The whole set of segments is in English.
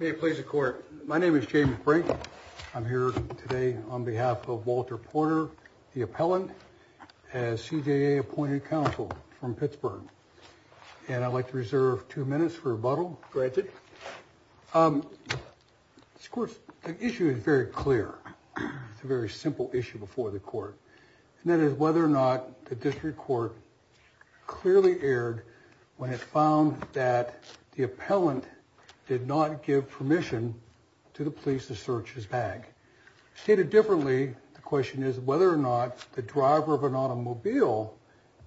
May it please the court. My name is James Brink. I'm here today on behalf of Walter Porter, the appellant, as CJA appointed counsel from Pittsburgh. And I'd like to reserve two minutes for rebuttal, granted. Of course, the issue is very clear. It's a very simple issue before the court, and that is whether or not the district court clearly erred when it found that the appellant did not give permission to the police to search his bag. Stated differently, the question is whether or not the driver of an automobile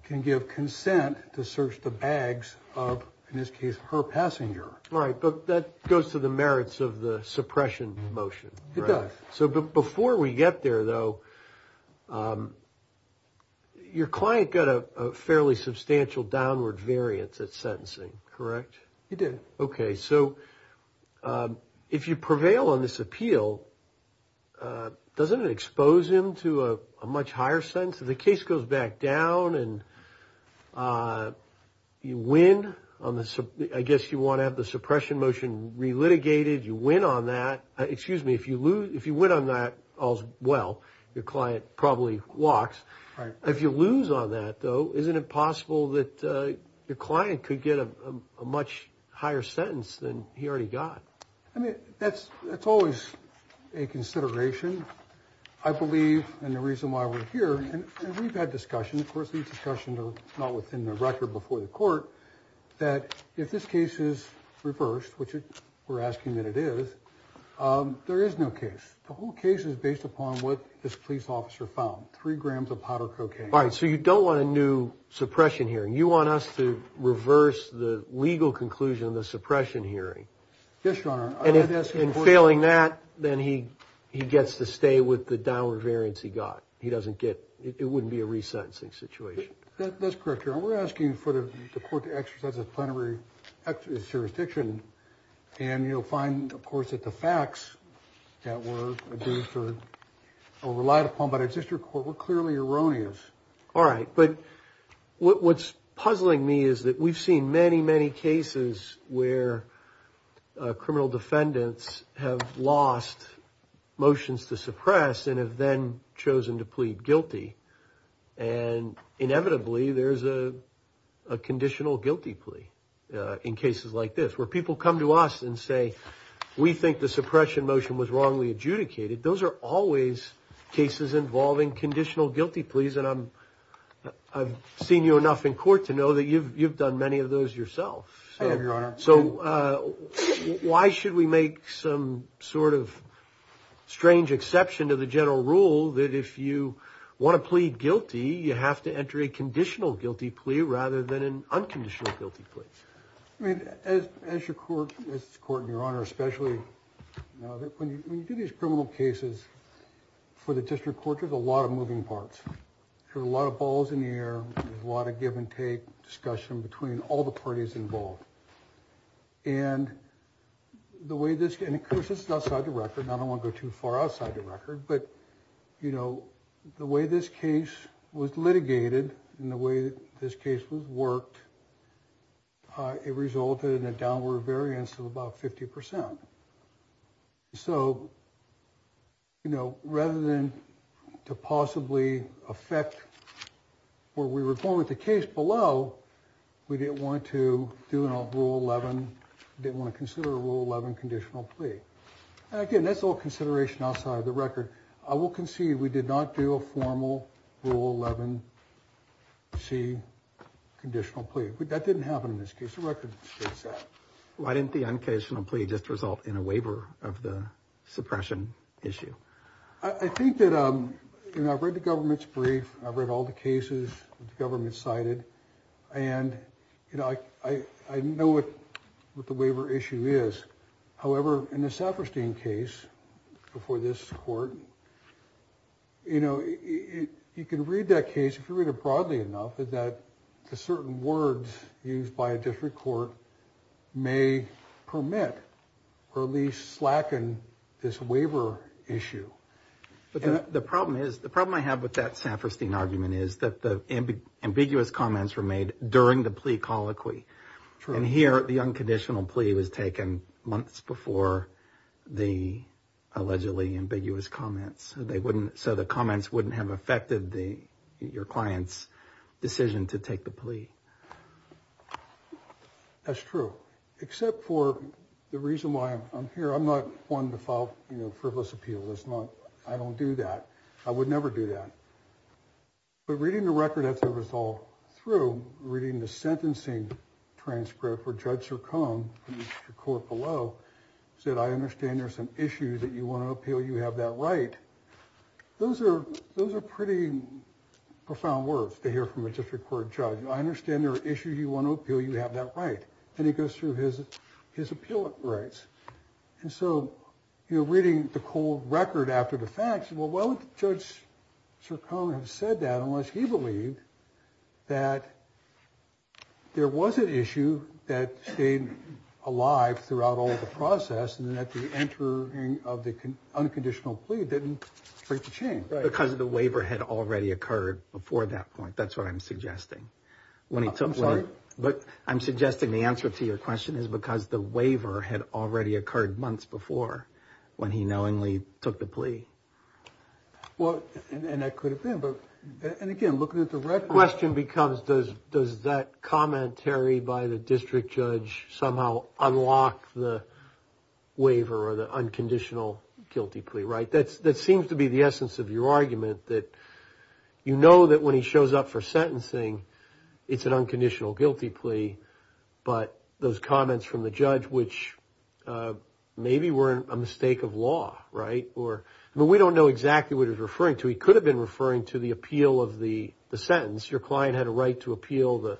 can give consent to search the bags of, in this case, her passenger. Right, but that goes to the merits of the suppression motion. It does. So before we get there, though, your client got a fairly substantial downward variance at sentencing, correct? He did. Okay, so if you prevail on this appeal, doesn't it expose him to a much higher sentence? If the case goes back down and you win on this, I guess you want to have the suppression motion relitigated, you win on that as well, your client probably walks. If you lose on that, though, isn't it possible that your client could get a much higher sentence than he already got? I mean, that's always a consideration. I believe, and the reason why we're here, and we've had discussion, of course these discussions are not within the record before the court, that if this case is reversed, which we're asking that it is, there is no case. The whole case is based upon what this police officer found, three grams of powder cocaine. Right, so you don't want a new suppression hearing. You want us to reverse the legal conclusion of the suppression hearing. Yes, your honor. And if, in failing that, then he gets to stay with the downward variance he got. He doesn't get, it wouldn't be a resentencing situation. That's correct, your honor. We're asking for the court to exercise its plenary jurisdiction, and you'll find, of course, that the facts that were deferred or relied upon by the district court were clearly erroneous. All right, but what's puzzling me is that we've seen many, many cases where criminal defendants have lost motions to suppress and have then chosen to plead guilty, and inevitably there's a conditional guilty plea in cases like this, where people come to us and say, we think the suppression motion was wrongly adjudicated. Those are always cases involving conditional guilty pleas, and I'm, I've seen you enough in court to know that you've, you've done many of those yourself. I have, your honor. So why should we make some sort of strange exception to the general rule that if you want to plead guilty, you have to enter a conditional guilty plea rather than an unconditional guilty plea? I mean, as your court, as court, your honor, especially when you do these criminal cases for the district court, there's a lot of moving parts. There are a lot of balls in the air, a lot of give-and-take discussion between all the parties involved, and the way this, and of course, this is outside the record. I don't want to go too far outside the record, but you this case was worked, it resulted in a downward variance of about 50%. So, you know, rather than to possibly affect where we were going with the case below, we didn't want to do a rule 11, didn't want to consider a rule 11 conditional plea. Again, that's all consideration outside of the record. I will concede we did not do a formal rule 11 C conditional plea. That didn't happen in this case, the record states that. Why didn't the unconditional plea just result in a waiver of the suppression issue? I think that, um, you know, I've read the government's brief, I've read all the cases the government cited, and you know, I know what the waiver issue is. However, in the Saperstein case before this court, you know, you can read that case, if you read it broadly enough, is that the certain words used by a different court may permit, or at least slacken, this waiver issue. But the problem is, the problem I have with that Saperstein argument is that the ambiguous comments were made during the plea colloquy. And here, the unconditional plea was taken months before the allegedly ambiguous comments. They wouldn't, so the comments wouldn't have affected the, your client's decision to take the plea. That's true, except for the reason why I'm here. I'm not one to file, you know, frivolous appeal. That's not, I don't do that. I would never do that. But reading the record as it was all through, reading the sentencing transcript for Judge Sircone, the court below, said, I understand there's some issues that you want to appeal, you have that right. Those are, those are pretty profound words to hear from a district court judge. I understand there are issues you want to appeal, you have that right. And he goes through his, his appeal rights. And so you're reading the cold record after the facts. Well, why would Judge Sircone have that unless he believed that there was an issue that stayed alive throughout all the process and that the entering of the unconditional plea didn't break the chain? Because the waiver had already occurred before that point. That's what I'm suggesting. When he took, but I'm suggesting the answer to your question is because the waiver had already occurred months before when he knowingly took the plea. Well, and that could have been, but, and again, looking at the record. The question becomes does, does that commentary by the district judge somehow unlock the waiver or the unconditional guilty plea, right? That's, that seems to be the essence of your argument, that you know that when he shows up for sentencing, it's an unconditional guilty plea. But those who are, we don't know exactly what he's referring to. He could have been referring to the appeal of the sentence. Your client had a right to appeal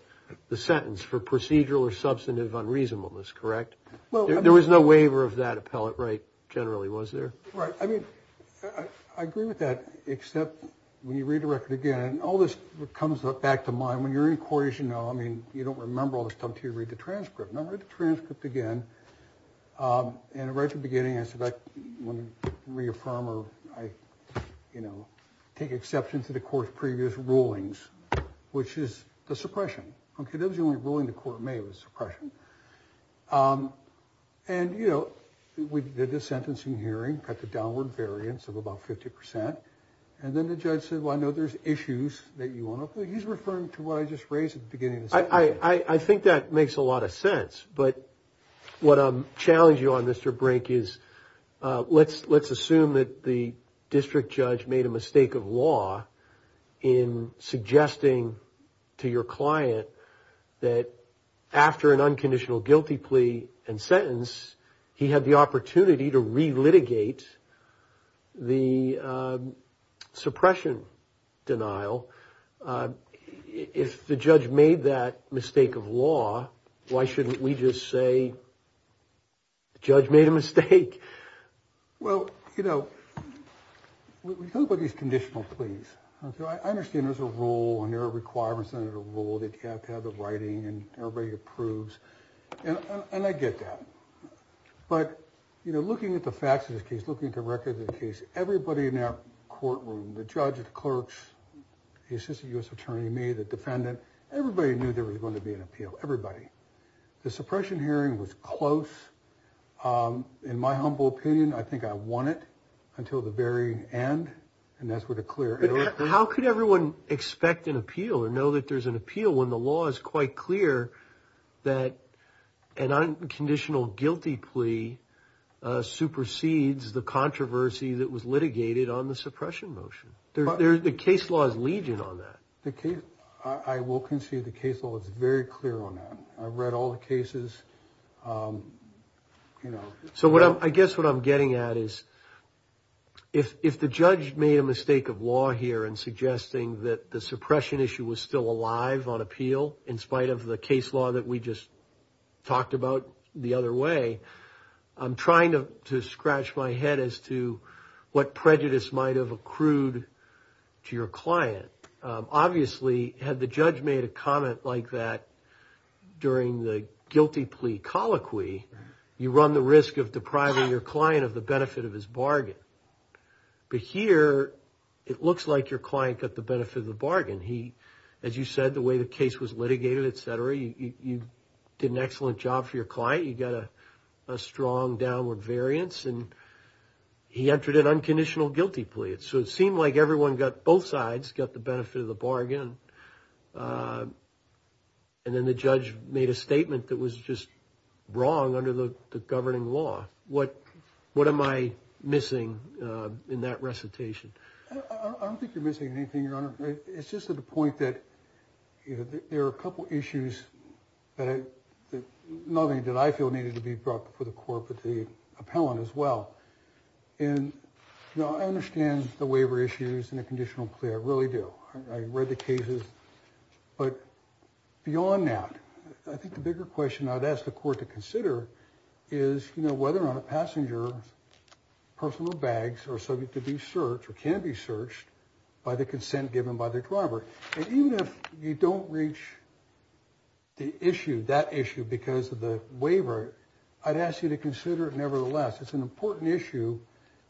the sentence for procedural or substantive unreasonableness, correct? Well, there was no waiver of that appellate right generally, was there? Right. I mean, I agree with that, except when you read the record again, and all this comes up back to mind when you're in court, as you know, I mean, you don't remember all this stuff until you read the transcript. And I read the transcript again. And right at the end of it, I take exception to the court's previous rulings, which is the suppression. Okay, that was the only ruling the court made was suppression. And, you know, we did the sentencing hearing, got the downward variance of about 50%. And then the judge said, well, I know there's issues that you want to, he's referring to what I just raised at the beginning. I think that makes a lot of sense, but what I'm challenging you on, Mr. Brink, is let's assume that the district judge made a mistake of law in suggesting to your client that after an unconditional guilty plea and sentence, he had the opportunity to relitigate the suppression denial. If the judge made that mistake of law, why shouldn't we just say the judge made a mistake? Well, you know, we talk about these conditional pleas. I understand there's a rule and there are requirements under the rule that you have to have the writing and everybody approves, and I get that. But, you know, looking at the facts of this case, looking at the record of the case, everybody in that courtroom, the clerks, the assistant U.S. attorney, me, the defendant, everybody knew there was going to be an appeal, everybody. The suppression hearing was close. In my humble opinion, I think I won it until the very end, and that's where the clear error came. But how could everyone expect an appeal or know that there's an appeal when the law is quite clear that an unconditional guilty plea supersedes the controversy that was litigated on the suppression motion? The case law is legion on that. I will concede the case law is very clear on that. I've read all the cases. So I guess what I'm getting at is if the judge made a mistake of law here in suggesting that the suppression issue was still alive on appeal in spite of the case law that we just talked about the other way, I'm trying to scratch my head as to what prejudice might have accrued to your client. Obviously, had the judge made a comment like that during the guilty plea colloquy, you run the risk of depriving your client of the benefit of his bargain. But here, it looks like your client got the benefit of the bargain. As you said, the way the case was litigated, et cetera, you did an excellent job for your client. You got a strong downward variance and he entered an unconditional guilty plea. So it seemed like everyone got, both sides, got the benefit of the bargain. And then the judge made a statement that was just wrong under the governing law. What am I missing in that recitation? I don't think you're missing anything, Your Honor. It's just to the point that there are a couple issues that, not only did I feel needed to be brought before the court, but the appellant as well. And I understand the waiver issues and the conditional plea. I really do. I read the cases. But beyond that, I think the bigger question I'd ask the court to consider is whether on a passenger, personal bags are subject to be searched or can be searched by the consent given by the driver. And even if you don't reach the issue because of the waiver, I'd ask you to consider it nevertheless. It's an important issue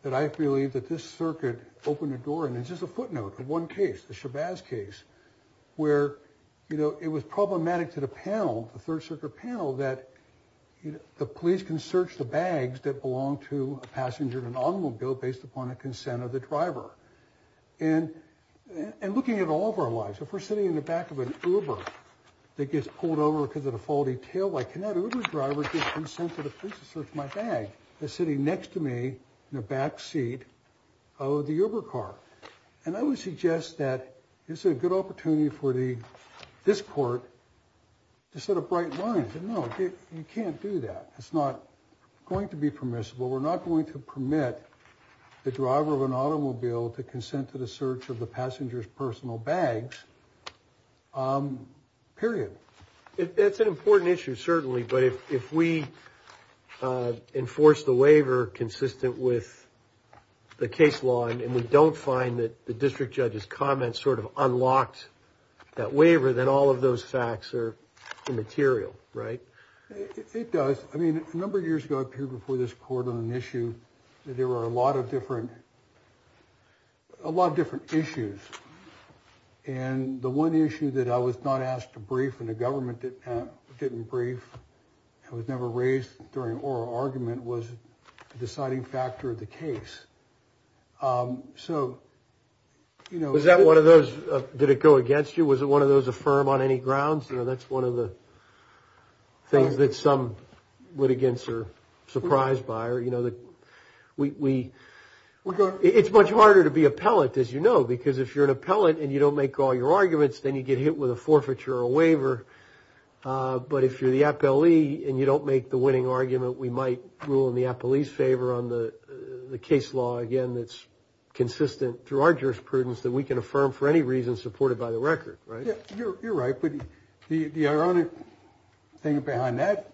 that I believe that this circuit opened the door. And it's just a footnote of one case, the Shabazz case, where, you know, it was problematic to the panel, the Third Circuit panel, that the police can search the bags that belong to a passenger in an automobile based upon a consent of the driver. And looking at all of our lives, if we're sitting in the back of an Uber that gets pulled over because of the faulty taillight, can that Uber driver get consent of the police to search my bag that's sitting next to me in the back seat of the Uber car? And I would suggest that it's a good opportunity for the, this court, to set a bright line. No, you can't do that. It's not going to be permissible. We're not going to permit the driver of an automobile to consent to the search of the passenger's personal bags. Period. That's an important issue, certainly, but if we enforce the waiver consistent with the case law and we don't find that the district judge's comments sort of unlocked that waiver, then all of those facts are immaterial, right? It does. I mean, a number of years ago, I appeared before this court on an issue that there were a lot of different, a lot of different issues. And the one issue that I was not asked to brief and the government didn't brief and was never raised during oral argument was the deciding factor of the case. So, you know. Was that one of those, did it go against you? Was it one of those affirm on any grounds? You know, that's one of the things that some litigants are surprised by, or you know, that we, it's much harder to be appellate, as you know, because if you're an appellate and you don't make all your arguments, then you get hit with a forfeiture or a waiver. But if you're the appellee and you don't make the winning argument, we might rule in the appellee's favor on the case law. Again, that's consistent through our jurisprudence that we can affirm for any reason supported by the record, right? Yeah, you're right. But the ironic thing behind that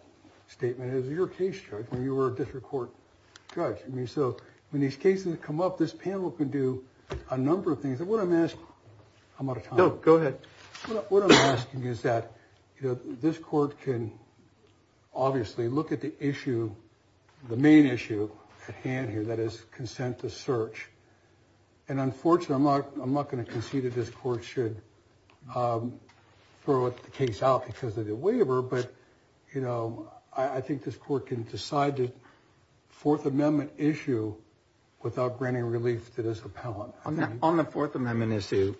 statement is your case judge when you were a district court judge. I mean, so when these cases come up, this panel can do a number of things. What I'm asking is that, you know, this court can obviously look at the issue, the main issue at hand here, that is consent to search. And unfortunately, I'm not going to concede that this court should throw the case out because of the waiver. But, you know, I think this court can decide the Fourth Amendment issue without granting relief to this appellant. On the Fourth Amendment issue,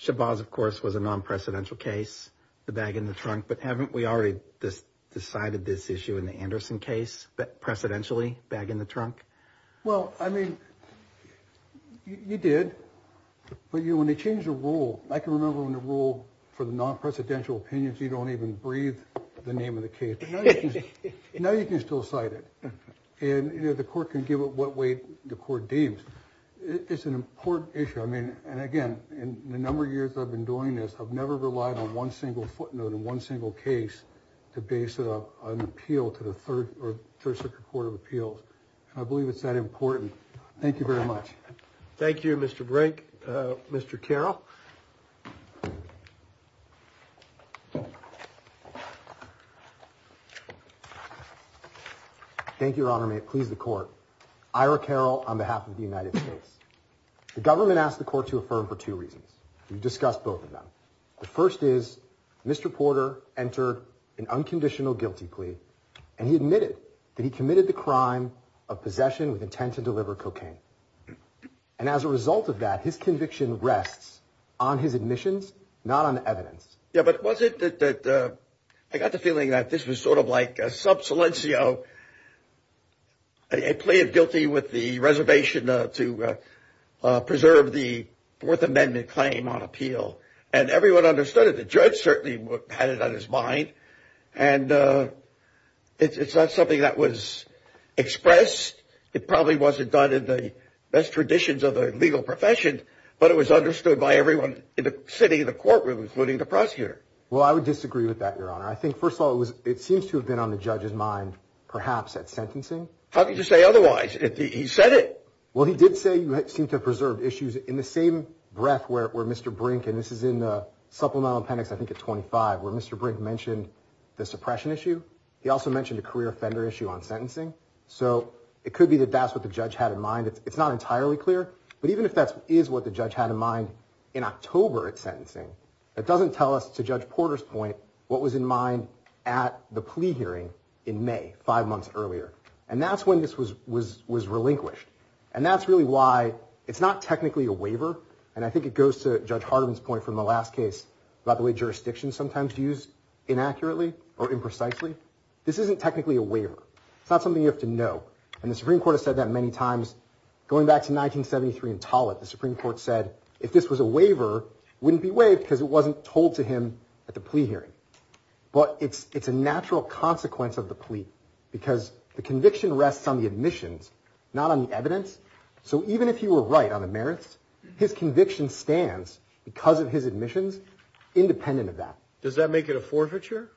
Shabazz, of course, was a non-precedential case, the bag in the trunk. But haven't we already just decided this issue in the Anderson case, but precedentially, bag in the trunk? Well, I mean, you did. But, you know, when they change the rule, I can remember when the rule for the non-precedential opinions, you don't even breathe the name of the case. But now you can still cite it. And, you know, the court can give it what way the court deems. It's an important issue. I mean, and again, in the number of years I've been doing this, I've never relied on one single footnote in one single case to base it up on an appeal to the Third Circuit Court of Appeals. I believe it's that important. Thank you very much. Thank you, Mr. Brink. Mr. Carroll. Thank you, Your Honor. May it please the court. Ira Carroll on behalf of the United States. The government asked the court to affirm for two reasons. We've discussed both of them. The first is, Mr. Porter entered an unconditional guilty plea, and he admitted that he committed the crime of possession with intent to deliver cocaine. And as a result of that, his conviction rests on his admissions, not on evidence. Yeah, but was it that I got the feeling that this was sort of like a sub silencio plea of guilty with the reservation to preserve the Fourth Amendment claim on appeal. And everyone understood it. The judge certainly had it on his mind. And it's not something that was expressed. It probably wasn't done in the best traditions of the legal profession, but it was understood by everyone in the city, in the courtroom, including the prosecutor. Well, I would disagree with that, Your Honor. I think, first of all, it was, it seems to have been on the judge's mind, perhaps, at sentencing. How could you say otherwise? He said it. Well, he did say you seemed to have preserved issues in the same breath where Mr. Brink, and this is in the supplemental appendix, I think, at 25, where Mr. Brink mentioned the suppression issue. He also mentioned a career offender issue on sentencing. So it could be that that's what the judge had in mind. It's not entirely clear. But even if that is what the judge had in mind in October at sentencing, that doesn't tell us, to Judge Porter's point, what was in mind at the plea hearing in May, five months earlier. And that's when this was relinquished. And that's really why it's not technically a waiver. And I think it goes to Judge Hardeman's point from the last case about the way jurisdictions sometimes use inaccurately or imprecisely. This isn't technically a waiver. It's not something you have to know. And the Supreme Court has said that many times. Going back to 1973 in Tollett, the Supreme Court said, if this was a waiver, it wouldn't be waived because it wasn't told to him at the plea hearing. But it's a natural consequence of the plea, because the conviction rests on the admissions, not on the evidence. So even if he were right on the merits, his conviction stands, because of his admissions, independent of that. Does that make it a forfeiture?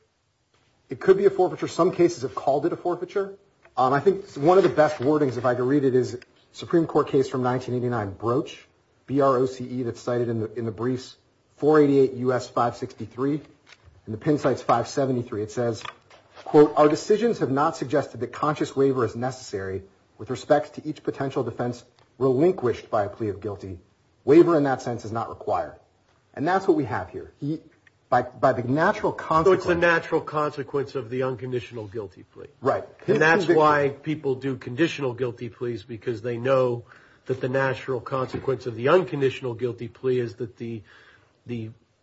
It could be a forfeiture. Some cases have called it a forfeiture. I think one of the best wordings, if I could read it, is a Supreme Court case from 1989, Broach, B-R-O-C-E, that's cited in the briefs, 488 U.S. 563, and the pin cites 573. It says, quote, Our decisions have not suggested that conscious waiver is necessary with respect to each potential defense relinquished by a plea of guilty. Waiver in that sense is not required. And that's what we have here. By the natural consequence... So it's the natural consequence of the unconditional guilty plea. Right. And that's why people do conditional guilty pleas, because they know that the natural consequence of the unconditional guilty plea is that the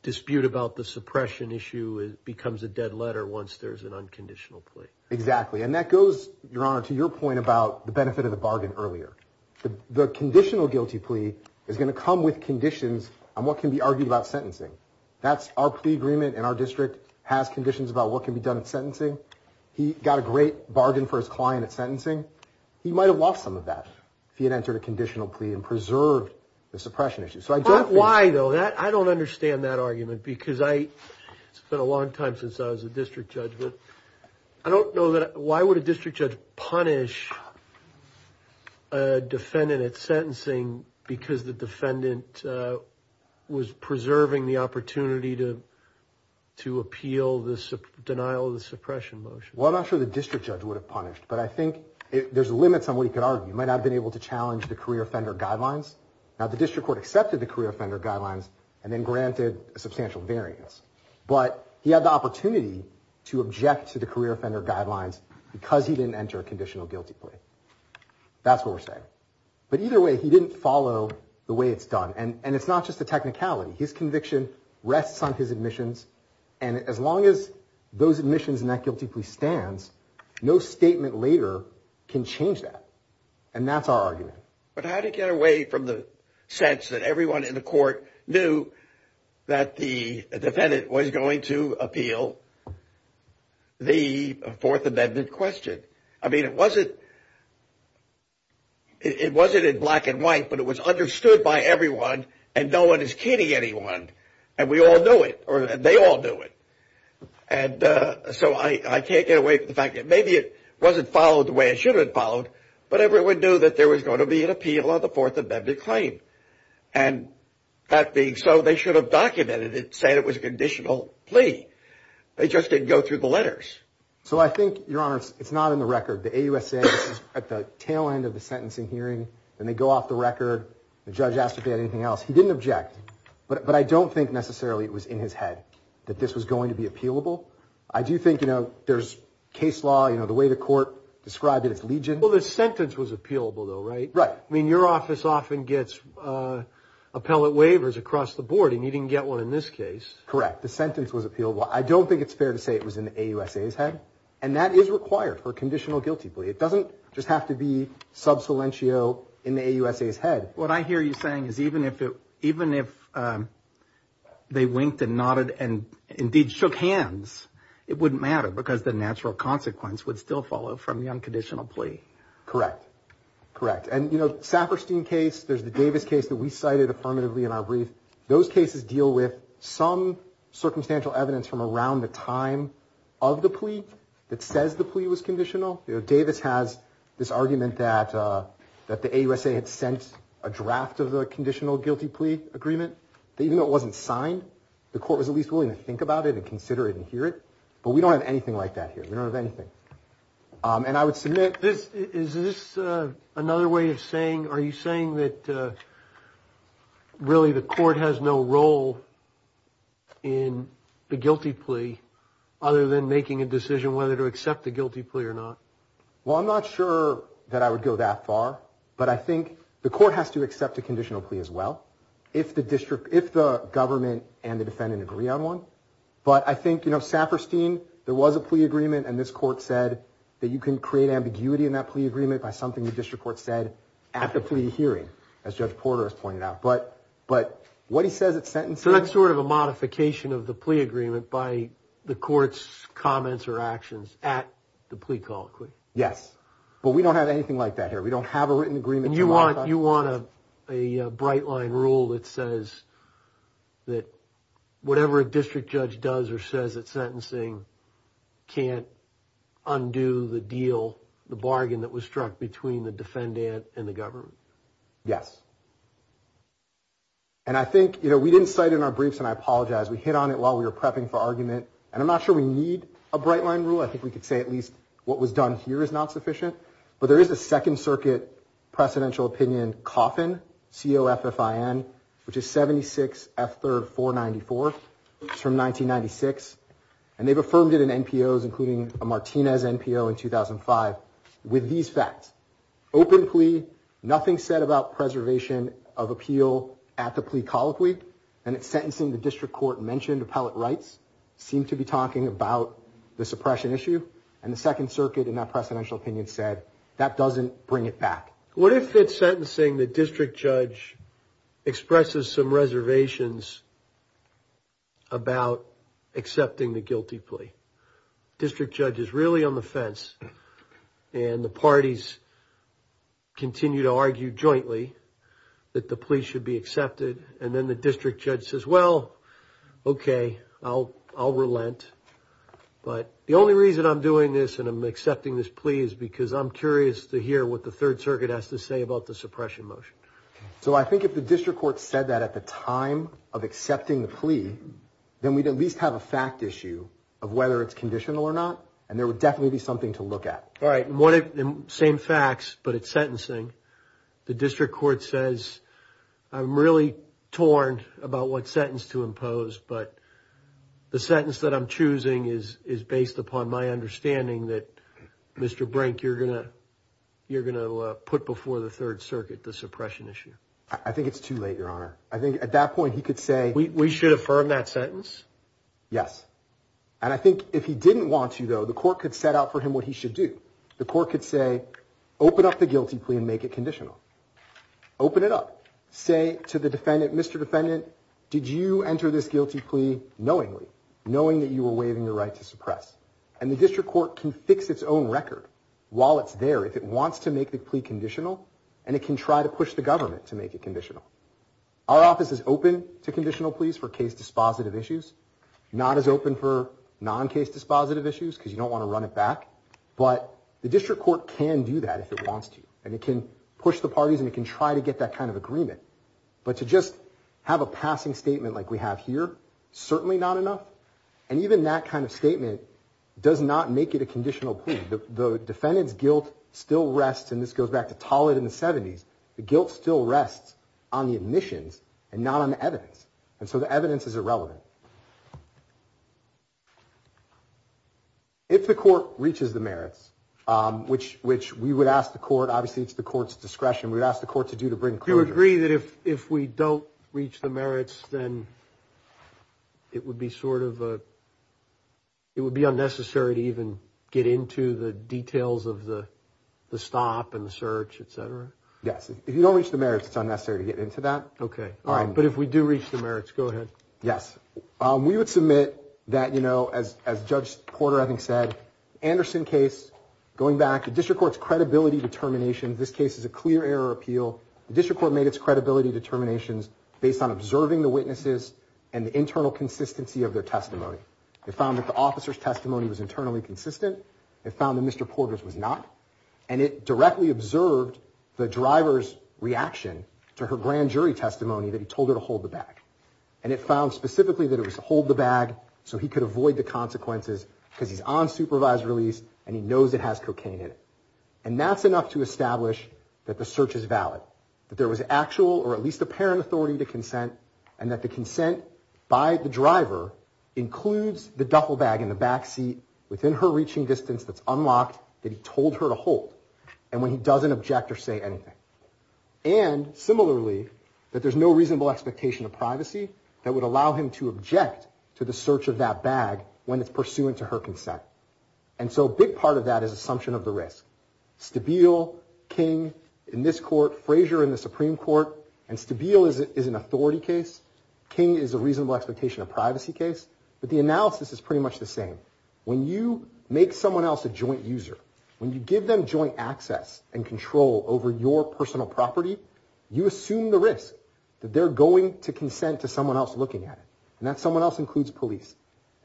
dispute about the suppression issue becomes a dead letter once there's an unconditional plea. Exactly. And that goes, Your Honor, to your point about the benefit of the bargain earlier. The conditional guilty plea is going to come with conditions on what can be argued about sentencing. Our plea agreement in our district has conditions about what can be done in sentencing. He got a great bargain for his client at sentencing. He might have lost some of that if he had entered a conditional plea and preserved the suppression issue. Why, though? I don't understand that argument, because it's been a long time since I was a district judge, but I don't know that... Why would a district judge punish a defendant at sentencing because the defendant was preserving the opportunity to appeal the denial of the suppression motion? Well, I'm not sure the district judge would have punished, but I think there's limits on what he could argue. He might not have been able to challenge the career offender guidelines. Now, the district court accepted the career offender guidelines and then granted a substantial variance. But he had the opportunity to object to the career offender guidelines because he didn't enter a conditional guilty plea. That's what we're saying. But either way, he didn't follow the way it's done. And it's not just the technicality. His conviction rests on his admissions, and as long as those admissions and that guilty plea stands, no statement later can change that. And that's our argument. But how do you get away from the sense that everyone in the court knew that the defendant was going to appeal the Fourth Amendment question? I mean, it wasn't... It wasn't in black and white, but it was understood by everyone, and no one is kidding anyone. And we all knew it. They all knew it. And so I can't get away from the fact that maybe it wasn't followed the way it should have been followed, but everyone knew that there was going to be an appeal on the Fourth Amendment claim. And that being so, they should have documented it and said it was a conditional plea. They just didn't go through the letters. So I think, Your Honor, it's not in the record. The AUSA is at the tail end of the sentencing hearing. Then they go off the record. The judge asked if he had anything else. He didn't object. But I don't think necessarily it was in his head that this was going to be appealable. I do think, you know, there's case law. You know, the way the court described it, it's legion. Well, the sentence was appealable, though, right? Right. I mean, your office often gets appellate waivers across the board, and you didn't get one in this case. Correct. The sentence was appealable. I don't think it's fair to say it was in the AUSA's head. And that is required for a conditional guilty plea. It doesn't just have to be subsilentio in the AUSA's head. What I hear you saying is even if they winked and nodded and indeed shook hands, it wouldn't matter because the natural consequence would still follow from the unconditional plea. Correct. Correct. And, you know, Saperstein case, there's the Davis case that we cited affirmatively in our brief. Those cases deal with some circumstantial evidence from around the time of the plea that says the plea was conditional. You know, Davis has this argument that the AUSA had sent a draft of the conditional guilty plea agreement that even though it wasn't signed, the court was at least willing to think about it and consider it and hear it. But we don't have anything like that here. We don't have anything. And I would submit... Is this another way of saying... Are you saying that really the court has no role in the guilty plea other than making a decision whether to accept the guilty plea or not? Well, I'm not sure that I would go that far. But I think the court has to accept a conditional plea as well if the government and the defendant agree on one. But I think, you know, Saperstein, there was a plea agreement and this court said that you can create ambiguity in that plea agreement by something the district court said at the plea hearing, as Judge Porter has pointed out. But what he says at sentencing... So that's sort of a modification of the plea agreement by the court's comments or actions at the plea call, correct? Yes. But we don't have anything like that here. We don't have a written agreement. And you want a bright-line rule that says that whatever a district judge does or says at sentencing can't undo the deal, the bargain that was struck between the defendant and the government? Yes. And I think, you know, we didn't cite it in our briefs and I apologize. We hit on it while we were prepping for argument and I'm not sure we need a bright-line rule. I think we could say at least what was done here is not sufficient. But there is a Second Circuit precedential opinion coffin, C-O-F-F-I-N, which is 76 F. 3rd 494. It's from 1996. And they've affirmed it in NPOs, including a Martinez NPO in 2005 with these facts. Open plea, nothing said about preservation of appeal at the plea call week. And at sentencing the district court mentioned appellate rights seemed to be talking about the suppression issue. And the Second Circuit in that precedential opinion said that doesn't bring it back. What if at sentencing the district judge expresses some reservations about accepting the guilty plea? District judge is really on the fence and the parties continue to argue jointly that the plea should be accepted and then the district judge says, well, okay, I'll relent. But the only reason I'm doing this and I'm accepting this plea is because I'm curious to hear what the Third Circuit has to say about the suppression motion. So I think if the district court had said that at the time of accepting the plea then we'd at least have a fact issue of whether it's conditional or not and there would definitely be something to look at. All right. Same facts but at sentencing the district court says I'm really torn about what sentence to impose but the sentence that I'm choosing is based upon my understanding that Mr. Brink you're going to put before the Third Circuit the suppression issue. I think it's too late Your Honor. I think at that point he could say we should affirm that sentence? Yes. And I think if he didn't want to though the court could set out for him what he should do. The court could say open up the guilty plea and make it conditional. Open it up. Say to the defendant Mr. Defendant did you enter this guilty plea knowingly knowing that you were waiving the right to suppress and the district court can fix its own record while it's there if it wants to make it conditional. Our office is open to conditional pleas for case dispositive issues not as open for non-case dispositive issues because you don't want to run it back but the district court can do that if it wants to and it can push the parties and it can try to get that kind of agreement but to just have a passing statement like we have here certainly not enough and even that kind of statement does not make it a conditional plea. The defendant's guilt still rests and this goes back to Tollett in the 70's the guilt still rests on the admissions and not on the evidence and so the evidence is irrelevant. If the court reaches the merits which we would ask the court obviously it's the court's discretion we would ask the court to do to bring clarity. Do you agree that if we don't reach the merits then it would be sort of it would be unnecessary to even get into the details of the stop and the search etc? Yes. If you don't reach the merits it's unnecessary to get into that. Okay. But if we do reach the merits go ahead. Yes. We would submit that you know as Judge Porter I think said Anderson case going back the district court's credibility determinations this case is a clear error appeal the district court has made its credibility determinations based on observing the witnesses and the internal consistency of their testimony. They found that the officer's testimony was internally consistent they found that Mr. Porter's was not and it directly observed the driver's reaction to her grand jury testimony that he told her to hold the bag and it found specifically that it was to hold the bag so he could avoid the consequences because he's on supervised release and he knows it has cocaine in it and that's enough to establish that the search is valid that there was actual or at least apparent authority to consent and that the consent by the driver includes the duffel bag in the back seat within her reaching distance that's unlocked that he told her to hold and when he doesn't object or say anything and similarly that there's no reasonable expectation of privacy that would allow him to object to the search of that bag when it's pursuant to her consent and so a big part of that is the assumption of the risk Stabile King in this court Frazier in the Supreme Court and Stabile is an authority case King is a reasonable expectation of privacy case but the analysis is pretty much the same when you make someone else a joint user when you give them joint access and control over your personal property you assume the risk that they're going to consent to someone else looking at it and that someone else includes police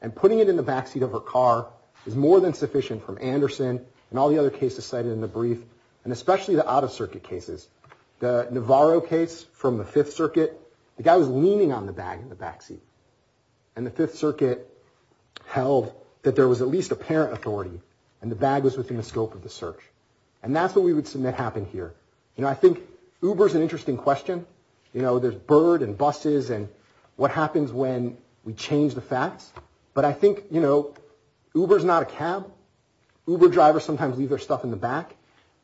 and putting it in the backseat of her car is more than sufficient from Anderson and all the other cases cited in the brief and especially the out-of-circuit cases the Navarro case from the 5th circuit the but I think you know Uber's not a cab Uber drivers sometimes leave their stuff in the back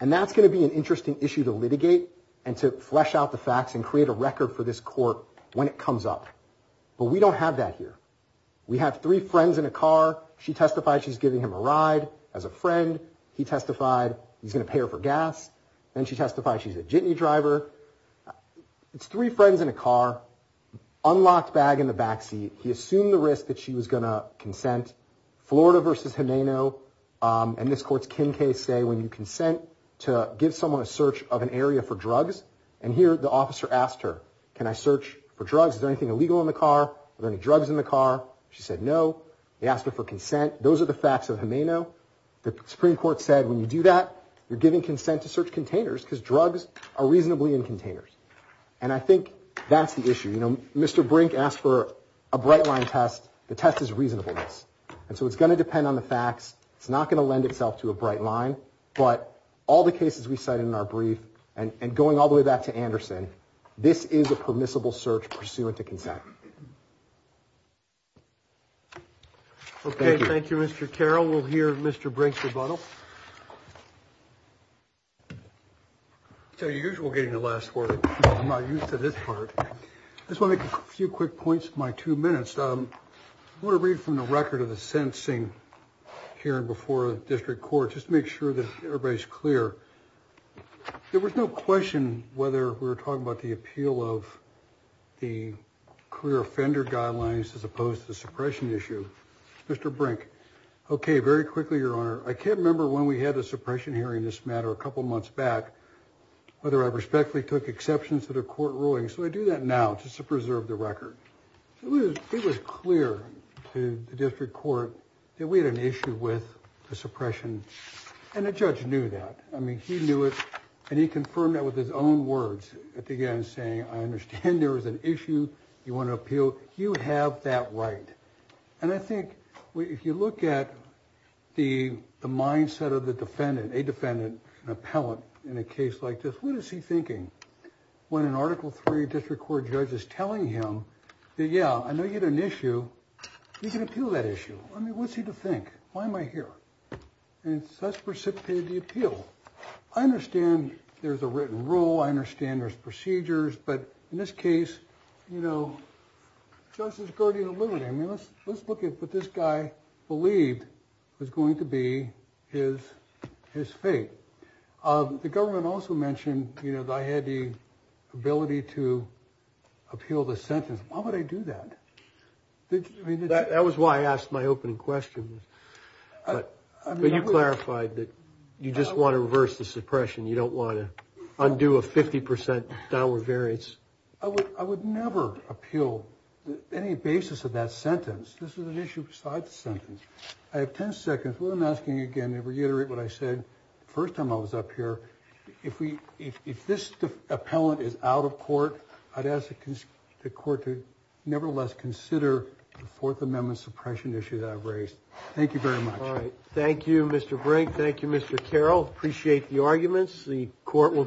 and that's going to be an interesting issue to litigate and to flesh out the facts and create a record for this court when it comes up but we don't have that here we have three friends in a car she testified she's giving him a ride as a friend he testified he's going to pay her for gas then she testified she's a Jitney driver it's three friends in a car unlocked bag in the backseat he assumed the risk that she was going to consent Florida vs. Jimeno and this court's Kin case say when you consent to those are the facts of Jimeno the Supreme Court said when you do that you're giving consent to search containers because drugs are reasonably in containers and I think that's the issue Mr. Brink asked for a bright line test the test is reasonableness and so it's going to depend on the facts it's not going to lend itself to a Mr. Carroll will hear Mr. Brink rebuttal I'm not used to this part I just want to make a few quick points in my two minutes I want to read from the record of the sentencing hearing before the district court just to make sure that everybody is clear there was no question whether we were talking about the appeal of the clear offender guidelines as opposed to the suppression issue Mr. Brink okay very quickly your honor I can't remember when we had a suppression hearing this matter a couple months back whether I respectfully took exceptions to the I understand there was an issue you want to appeal you have that right and I think if you look at the mindset of the defendant an appellant in a case like this what is he thinking when an article three district court judge is telling him that yeah I know you had an issue you can there's procedures but in this case you know let's look at what this guy believed was going to be his fate the government also mentioned I had the ability to appeal the sentence why would I do that that was why I asked my opening question but you clarified that you just want to reverse the suppression you don't want to undo a 50% downward variance I would never appeal any basis of that sentence this is an issue besides the I would nevertheless consider the 4th amendment suppression issue that I raised thank you thank you Mr. Brink thank you Mr. Carroll appreciate the arguments the court will take the case forward thank you